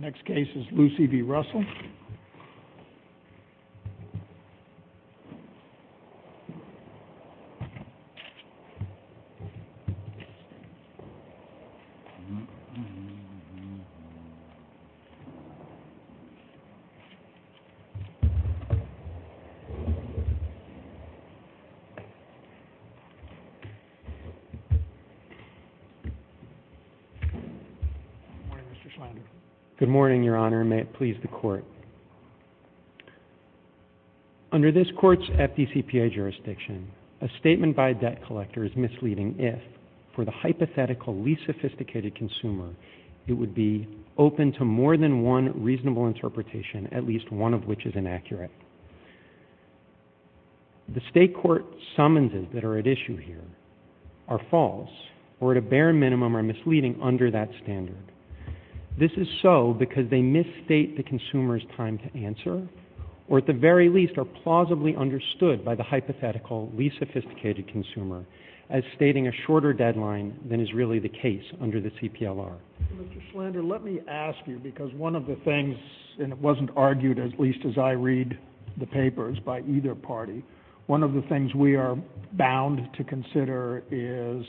Next case is Lucy v. Russell. Good morning, Your Honor, and may it please the Court. Under this Court's FDCPA jurisdiction, a statement by a debt collector is misleading if, for the hypothetical least sophisticated consumer, it would be open to more than one reasonable interpretation, at least one of which is inaccurate. The state court summonses that are at issue here are false, or at a bare minimum are misleading under that standard. This is so because they misstate the consumer's time to answer, or at the very least are plausibly understood by the hypothetical least sophisticated consumer as stating a shorter deadline than is really the case under the CPLR. Mr. Schlander, let me ask you, because one of the things—and it wasn't argued, at least as I read the papers, by either party—one of the things we are bound to consider is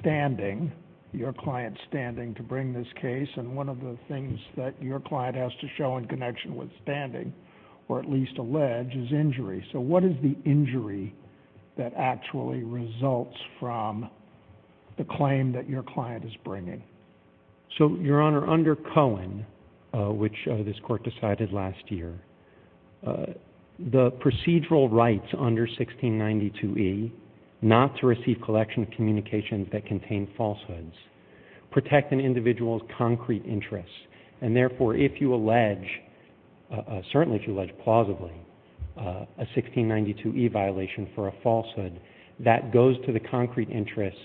standing, your client's standing to bring this case, and one of the things that your client has to show in connection with standing, or at least allege, is injury. So what is the injury that actually results from the claim that your client is bringing? So Your Honor, under Cohen, which this Court decided last year, the procedural rights under 1692e, not to receive collection of communications that contain falsehoods, protect an individual's concrete interests. And therefore, if you allege, certainly if you allege plausibly, a 1692e violation for a falsehood, that goes to the concrete interests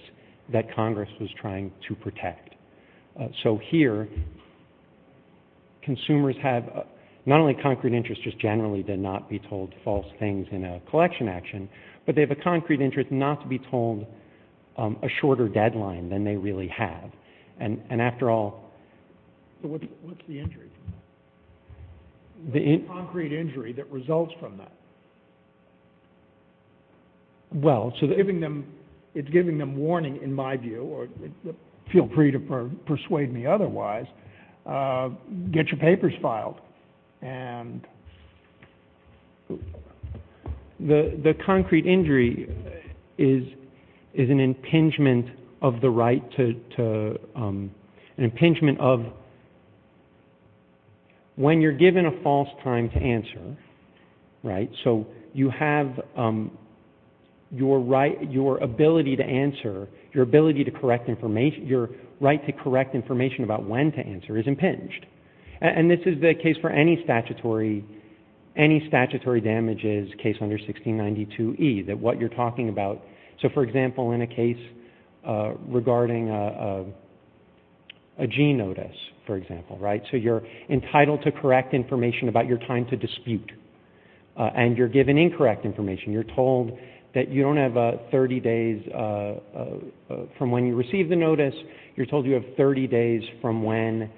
that Congress was trying to protect. So here, consumers have not only concrete interests, just generally to not be told false things in a collection action, but they have a concrete interest not to be told a shorter deadline than they really have. And after all— So what's the injury? What's the concrete injury that results from that? Well, it's giving them warning, in my view, or feel free to persuade me otherwise, get your papers filed. The concrete injury is an impingement of the right to—an impingement of when you're given a false time to answer, right? So you have your right, your ability to answer, your ability to correct information, your right to correct information about when to answer is impinged. And this is the case for any statutory damages case under 1692e, that what you're talking about—so for example, in a case regarding a G notice, for example, right? So you're entitled to correct information about your time to dispute, and you're given incorrect information. You're told that you don't have 30 days from when you receive the notice. You're told you have 30 days from when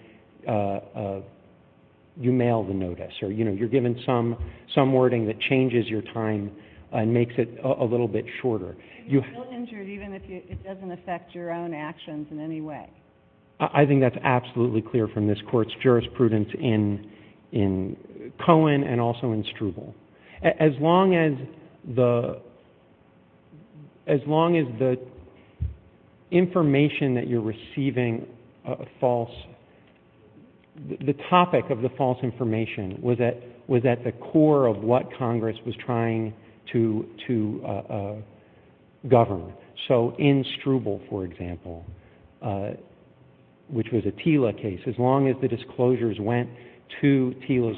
you mail the notice, or you're given some wording that changes your time and makes it a little bit shorter. You feel injured even if it doesn't affect your own actions in any way? I think that's absolutely clear from this Court's jurisprudence in Cohen and also in Struble. As long as the information that you're receiving—the topic of the false information was at the core of what Congress was trying to govern. So in Struble, for example, which was a TILA case, as long as the disclosures went to TILA's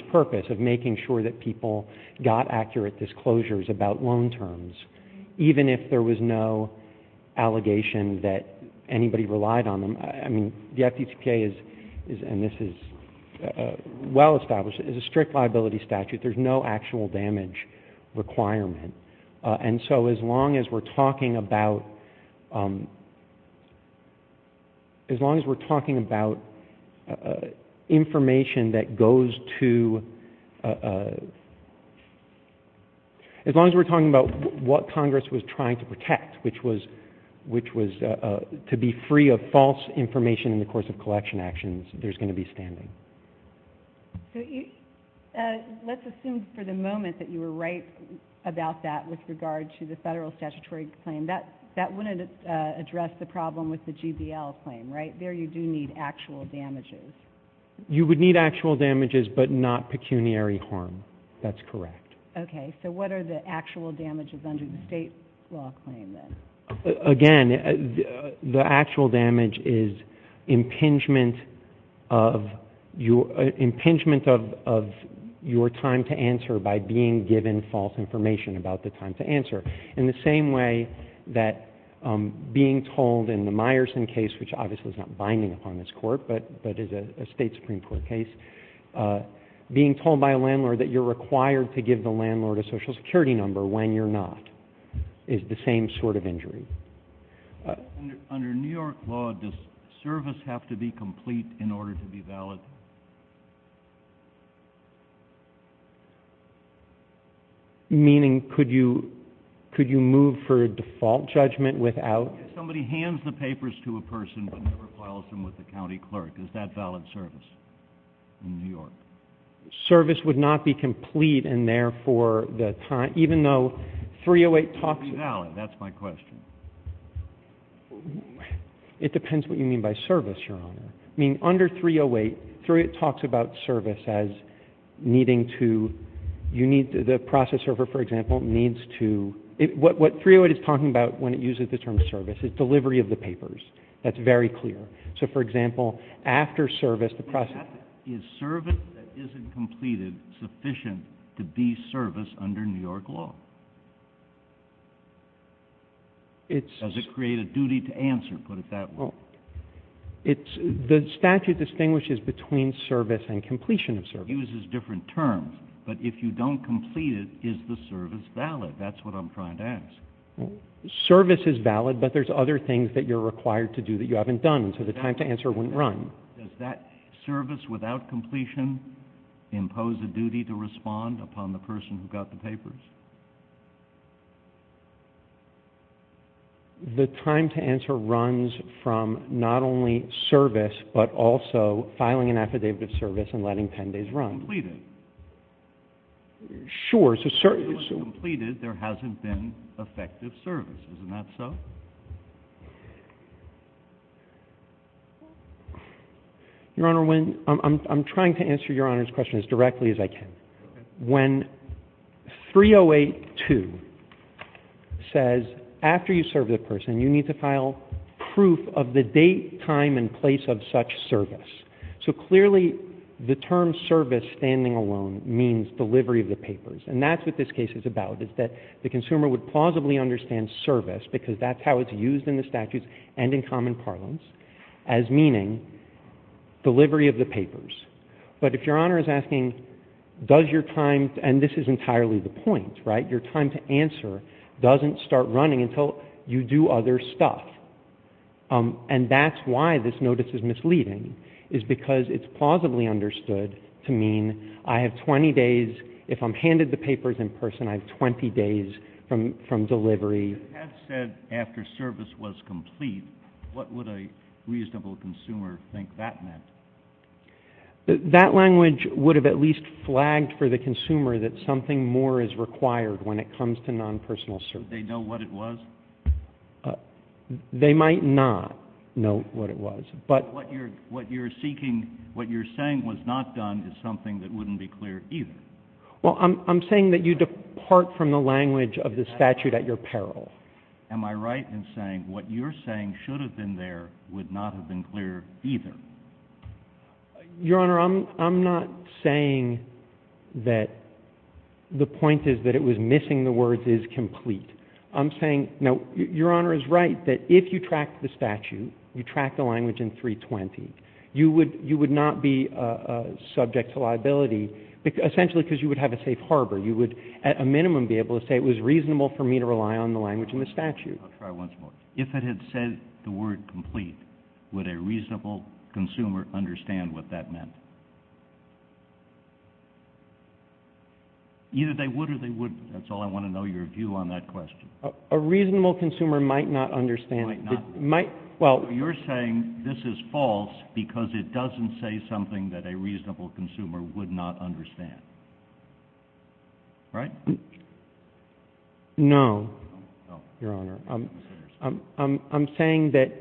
got accurate disclosures about loan terms, even if there was no allegation that anybody relied on them—I mean, the FDTPA is—and this is well-established—is a strict liability statute. There's no actual damage requirement. And so as long as we're talking about information that goes to—as long as we're talking about what Congress was trying to protect, which was to be free of false information in the course of collection actions, there's going to be standing. So let's assume for the moment that you were right about that with regard to the federal statutory claim. That wouldn't address the problem with the GBL claim, right? There, you do need actual damages. You would need actual damages but not pecuniary harm. That's correct. Okay. So what are the actual damages under the state law claim, then? Again, the actual damage is impingement of your time to answer by being given false information about the time to answer, in the same way that being told in the Meyerson case, which obviously is not binding upon this Court but is a state Supreme Court case, being told by a landlord that you're required to give the landlord a Social Security number when you're not, is the same sort of injury. Under New York law, does service have to be complete in order to be valid? Meaning could you move for a default judgment without— If somebody hands the papers to a person but never files them with the county clerk, is that valid service in New York? Service would not be complete and therefore the time, even though 308 talks— Would it be valid? That's my question. It depends what you mean by service, Your Honor. I mean, under 308, it talks about service as needing to, you need, the process server, for example, needs to, what 308 is talking about when it uses the term service is delivery of the papers. That's very clear. So, for example, after service, the process— Is service that isn't completed sufficient to be service under New York law? It's— Does it create a duty to answer, put it that way? The statute distinguishes between service and completion of service. It uses different terms, but if you don't complete it, is the service valid? That's what I'm trying to ask. Service is valid, but there's other things that you're required to do that you haven't done, so the time to answer wouldn't run. Does that service without completion impose a duty to respond upon the person who got the papers? The time to answer runs from not only service, but also filing an affidavit of service and letting 10 days run. Completed. Sure, so— If it was completed, there hasn't been effective service, isn't that so? Your Honor, when—I'm trying to answer Your Honor's question as directly as I can. When 308-2 says, after you serve the person, you need to file proof of the date, time, and place of such service, so clearly the term service standing alone means delivery of the papers, and that's what this case is about, is that the consumer would plausibly understand service, because that's how it's used in the statutes and in common parlance, as meaning delivery of the papers. But if Your Honor is asking, does your time—and this is entirely the point, right? Your time to answer doesn't start running until you do other stuff, and that's why this notice is misleading, is because it's plausibly understood to mean I have 20 days—if I'm If it had said, after service was complete, what would a reasonable consumer think that meant? That language would have at least flagged for the consumer that something more is required when it comes to non-personal service. Would they know what it was? They might not know what it was, but— What you're seeking—what you're saying was not done is something that wouldn't be clear either. Well, I'm saying that you depart from the language of the statute at your peril. Am I right in saying what you're saying should have been there would not have been clear either? Your Honor, I'm not saying that the point is that it was missing the words is complete. I'm saying—now, Your Honor is right that if you tracked the statute, you tracked the liability, essentially because you would have a safe harbor. You would, at a minimum, be able to say it was reasonable for me to rely on the language in the statute. I'll try once more. If it had said the word complete, would a reasonable consumer understand what that meant? Either they would or they wouldn't. That's all I want to know, your view on that question. A reasonable consumer might not understand. Might not. Might—well— So you're saying this is false because it doesn't say something that a reasonable consumer would not understand, right? No. No. No. Your Honor, I'm saying that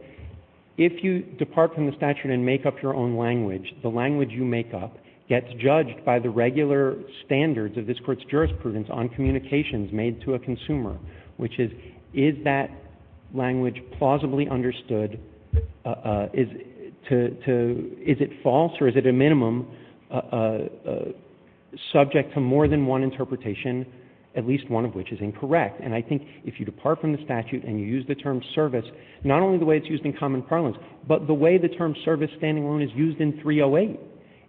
if you depart from the statute and make up your own language, the language you make up gets judged by the regular standards of this Court's jurisprudence on communications made to a consumer, which is, is that language plausibly understood—is it false or is it, at a minimum, subject to more than one interpretation, at least one of which is incorrect? And I think if you depart from the statute and you use the term service, not only the way it's used in common parlance, but the way the term service standing alone is used in 308,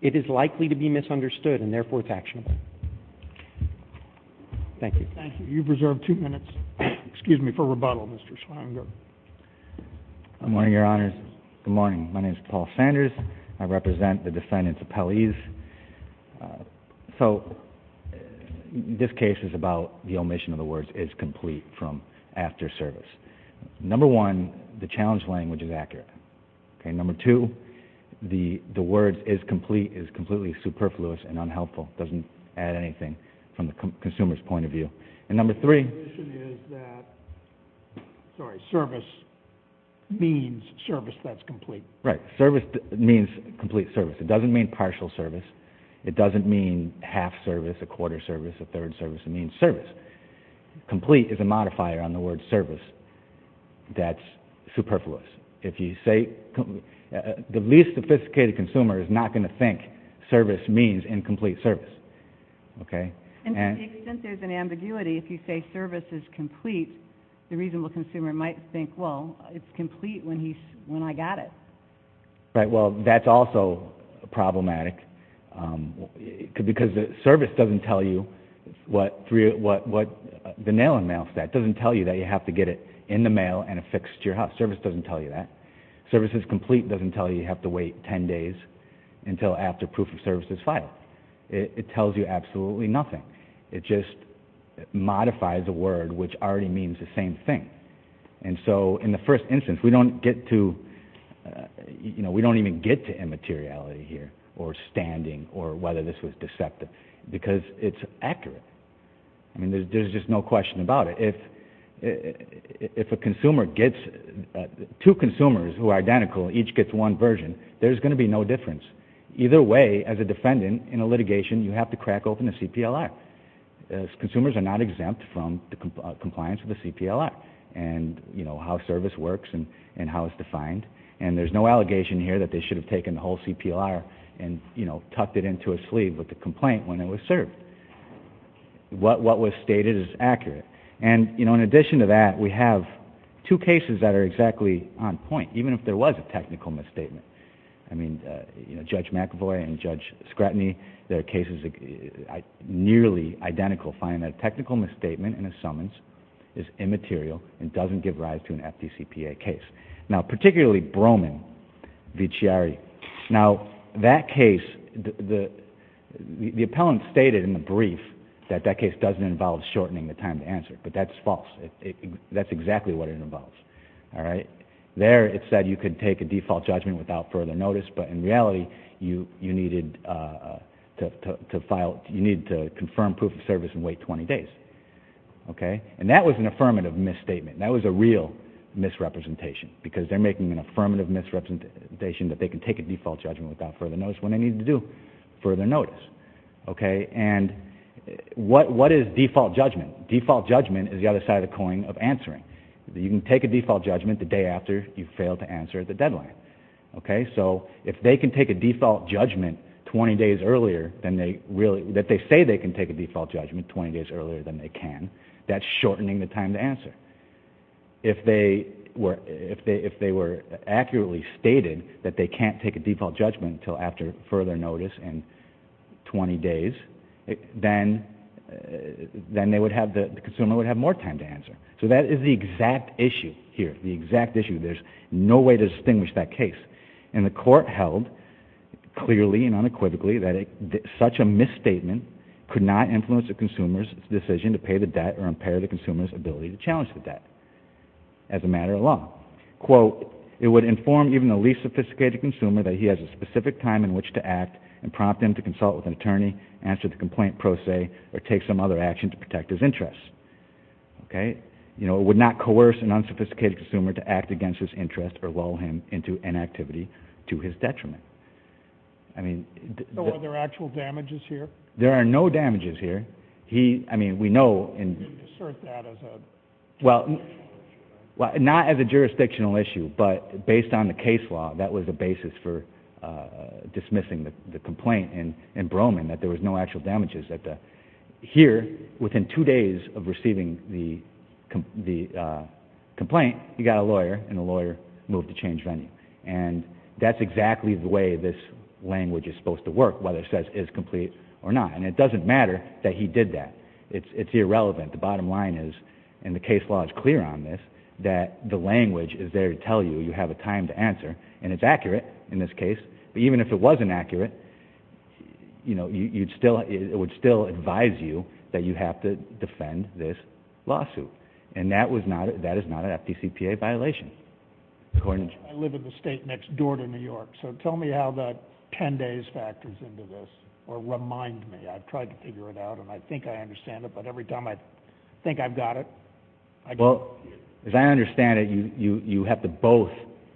it is likely to be misunderstood and, therefore, it's actionable. Thank you. Thank you. You've reserved two minutes. Excuse me for rebuttal, Mr. Schlanger. Good morning, Your Honors. Good morning. My name is Paul Sanders. I represent the defendants' appellees. So this case is about the omission of the words, is complete from after service. Number one, the challenge language is accurate, okay? The words, is complete, is completely superfluous and unhelpful. Doesn't add anything from the consumer's point of view. And number three— The omission is that, sorry, service means service that's complete. Right. Service means complete service. It doesn't mean partial service. It doesn't mean half service, a quarter service, a third service. It means service. Complete is a modifier on the word service that's superfluous. If you say—the least sophisticated consumer is not going to think service means incomplete service. Okay? And to the extent there's an ambiguity, if you say service is complete, the reasonable consumer might think, well, it's complete when I got it. Right. Well, that's also problematic because service doesn't tell you what—the nail-in-the-mouth that doesn't tell you that you have to get it in the mail and affixed to your house. Service doesn't tell you that. Service is complete doesn't tell you you have to wait 10 days until after proof of service is filed. It tells you absolutely nothing. It just modifies a word which already means the same thing. And so, in the first instance, we don't get to—you know, we don't even get to immateriality here or standing or whether this was deceptive because it's accurate. I mean, there's just no question about it. If a consumer gets—two consumers who are identical each gets one version, there's going to be no difference. Either way, as a defendant in a litigation, you have to crack open the CPLR. Consumers are not exempt from the compliance of the CPLR and, you know, how service works and how it's defined. And there's no allegation here that they should have taken the whole CPLR and, you know, tucked it into a sleeve with the complaint when it was served. What was stated is accurate. And, you know, in addition to that, we have two cases that are exactly on point, even if there was a technical misstatement. I mean, you know, Judge McAvoy and Judge Scratini, their cases are nearly identical, finding that a technical misstatement in a summons is immaterial and doesn't give rise to an FDCPA case. Now, particularly Broming v. Chiari. Now, that case, the appellant stated in the brief that that case doesn't involve shortening the time to answer, but that's false. That's exactly what it involves. All right? There, it said you could take a default judgment without further notice, but in reality, you needed to confirm proof of service and wait 20 days. Okay? And that was an affirmative misstatement. That was a real misrepresentation, because they're making an affirmative misrepresentation that they can take a default judgment without further notice when they need to do further notice. Okay? And what is default judgment? Default judgment is the other side of the coin of answering. You can take a default judgment the day after you fail to answer the deadline. Okay? So if they can take a default judgment 20 days earlier than they really, that they say they can take a default judgment 20 days earlier than they can, that's shortening the time to answer. If they were, if they were accurately stated that they can't take a default judgment until after further notice in 20 days, then they would have, the consumer would have more time to answer. So that is the exact issue here, the exact issue. There's no way to distinguish that case. And the court held clearly and unequivocally that such a misstatement could not influence a consumer's decision to pay the debt or impair the consumer's ability to challenge the debt as a matter of law. Quote, it would inform even the least sophisticated consumer that he has a specific time in which to act and prompt him to consult with an attorney, answer the complaint pro se, or take some other action to protect his interests. Okay? You know, it would not coerce an unsophisticated consumer to act against his interests or lull him into inactivity to his detriment. I mean... So are there actual damages here? There are no damages here. He, I mean, we know... You assert that as a... Well, not as a jurisdictional issue, but based on the case law, that was the basis for dismissing the complaint in Broman, that there was no actual damages. Here, within two days of receiving the complaint, he got a lawyer, and the lawyer moved to change venue. And that's exactly the way this language is supposed to work, whether it says is complete or not. And it doesn't matter that he did that. It's irrelevant. The bottom line is, and the case law is clear on this, that the language is there to tell you you have a time to answer, and it's accurate in this case. But even if it wasn't accurate, you know, you'd still... It would still advise you that you have to defend this lawsuit. And that was not... That is not an FDCPA violation. Gordon? I live in the state next door to New York, so tell me how the 10 days factors into this, or remind me. I've tried to figure it out, and I think I understand it, but every time I think I've got it, I get confused. Well, as I understand it, you have to both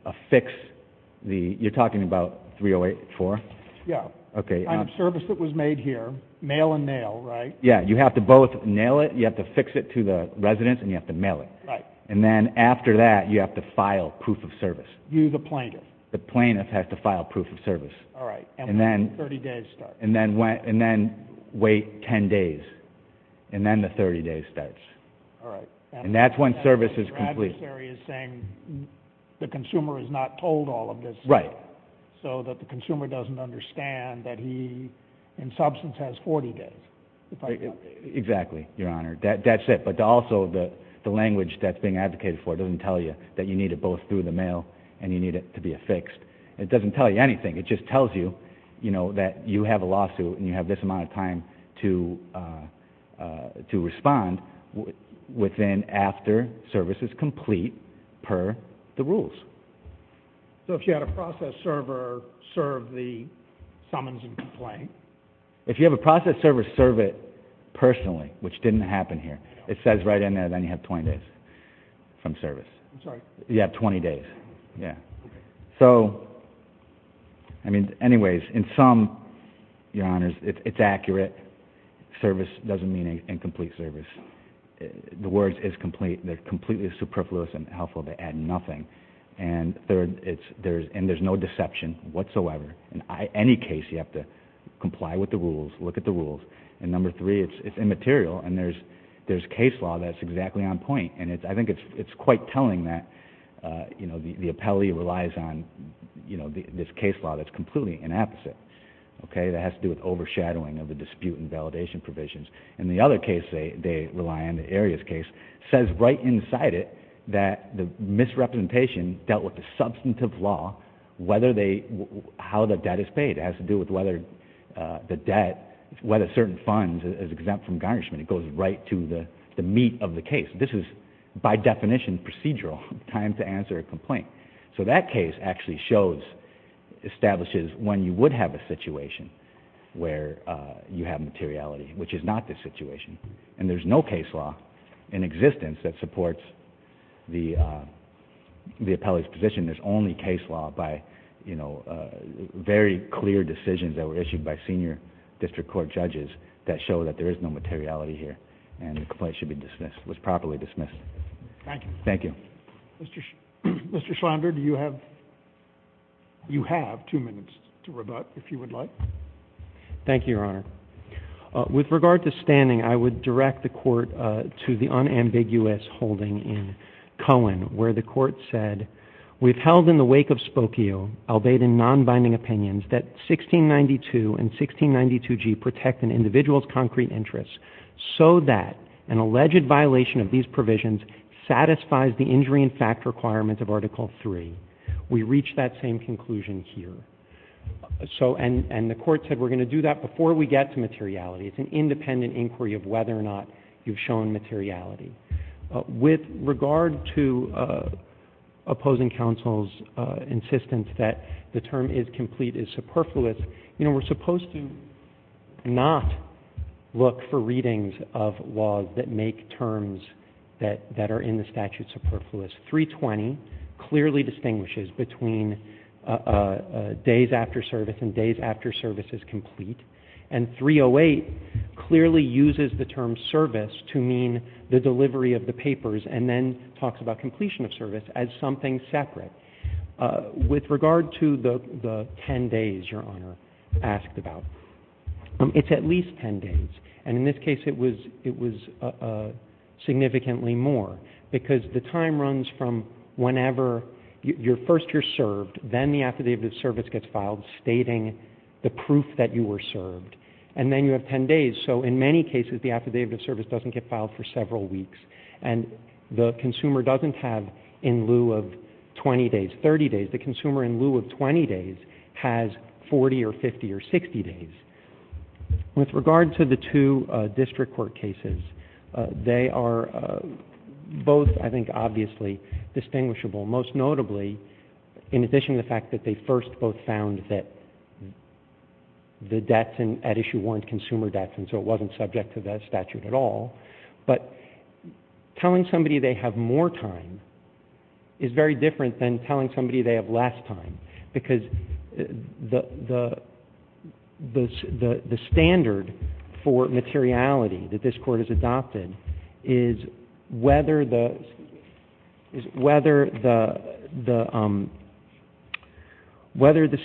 affix the... You're talking about 308-4? Yeah. Okay. On the service that was made here, mail and nail, right? Yeah, you have to both nail it, you have to fix it to the residents, and you have to mail it. Right. And then after that, you have to file proof of service. You, the plaintiff? The plaintiff has to file proof of service. All right. And when do the 30 days start? And then wait 10 days, and then the 30 days starts. All right. And that's when service is complete. Your adversary is saying the consumer is not told all of this. Right. So that the consumer doesn't understand that he, in substance, has 40 days. Exactly, Your Honor. That's it. But also, the language that's being advocated for doesn't tell you that you need it both through the mail and you need it to be affixed. It doesn't tell you anything. It just tells you, you know, that you have a lawsuit and you have this amount of time to respond within after service is complete per the rules. So if you had a process server serve the summons and complaint? If you have a process server serve it personally, which didn't happen here. It says right in there, then you have 20 days from service. I'm sorry. You have 20 days. Yeah. Okay. So, I mean, anyways, in sum, Your Honors, it's accurate. Service doesn't mean incomplete service. The words is complete. They're completely superfluous and helpful. They add nothing. And there's no deception whatsoever. In any case, you have to comply with the rules, look at the rules. And number three, it's immaterial. And there's case law that's exactly on point. And I think it's quite telling that, you know, the appellee relies on, you know, this case law that's completely inapposite, okay, that has to do with overshadowing of the dispute and validation provisions. And the other case they rely on, the Arias case, says right inside it that the misrepresentation dealt with the substantive law, whether they – how the debt is paid. It has to do with whether the debt, whether certain funds is exempt from garnishment. It goes right to the meat of the case. This is, by definition, procedural, time to answer a complaint. So that case actually shows, establishes when you would have a situation where you have materiality, which is not this situation. And there's no case law in existence that supports the appellee's position. There's only case law by, you know, very clear decisions that were issued by senior district court judges that show that there is no materiality here. And the complaint should be dismissed, was properly dismissed. Thank you. Thank you. Mr. Schlander, do you have – you have two minutes to rebut, if you would like. Thank you, Your Honor. With regard to standing, I would direct the Court to the unambiguous holding in Cohen where the Court said we've held in the wake of Spokio, albeit in non-binding opinions, that 1692 and 1692G protect an individual's concrete interests so that an alleged violation of these provisions satisfies the injury and fact requirements of Article III. We reach that same conclusion here. So – and the Court said we're going to do that before we get to materiality. It's an independent inquiry of whether or not you've shown materiality. With regard to opposing counsel's insistence that the term is complete is superfluous, you know, we're supposed to not look for readings of laws that make terms that are in the statute superfluous. 320 clearly distinguishes between days after service and days after service is complete. And 308 clearly uses the term service to mean the delivery of the papers and then talks about completion of service as something separate. With regard to the 10 days, Your Honor asked about, it's at least 10 days. And in this case, it was significantly more because the time runs from whenever – first you're served, then the affidavit of service gets filed stating the proof that you were served. And then you have 10 days. So in many cases, the affidavit of service doesn't get filed for several weeks. And the consumer doesn't have in lieu of 20 days, 30 days. The consumer in lieu of 20 days has 40 or 50 or 60 days. With regard to the two district court cases, they are both, I think, obviously distinguishable. Most notably, in addition to the fact that they first both found that the debts at issue weren't consumer debts and so it wasn't subject to the statute at all. But telling somebody they have more time is very different than telling somebody they have less time because the standard for materiality that this court has adopted is whether the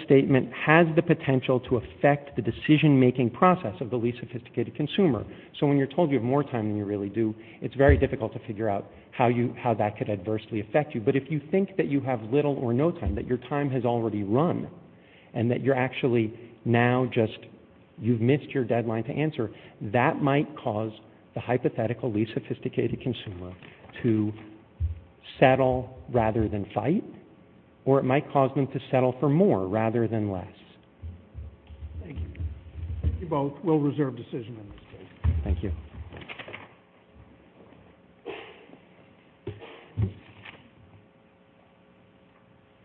statement has the potential to affect the decision-making process of the least sophisticated consumer. So when you're told you have more time than you really do, it's very difficult to figure out how that could adversely affect you. But if you think that you have little or no time, that your time has already run and that you're actually now just, you've missed your deadline to answer, that might cause the hypothetically sophisticated consumer to settle rather than fight or it might cause them to settle for more rather than less. Thank you. You both will reserve decision in this case. Thank you. Thank you.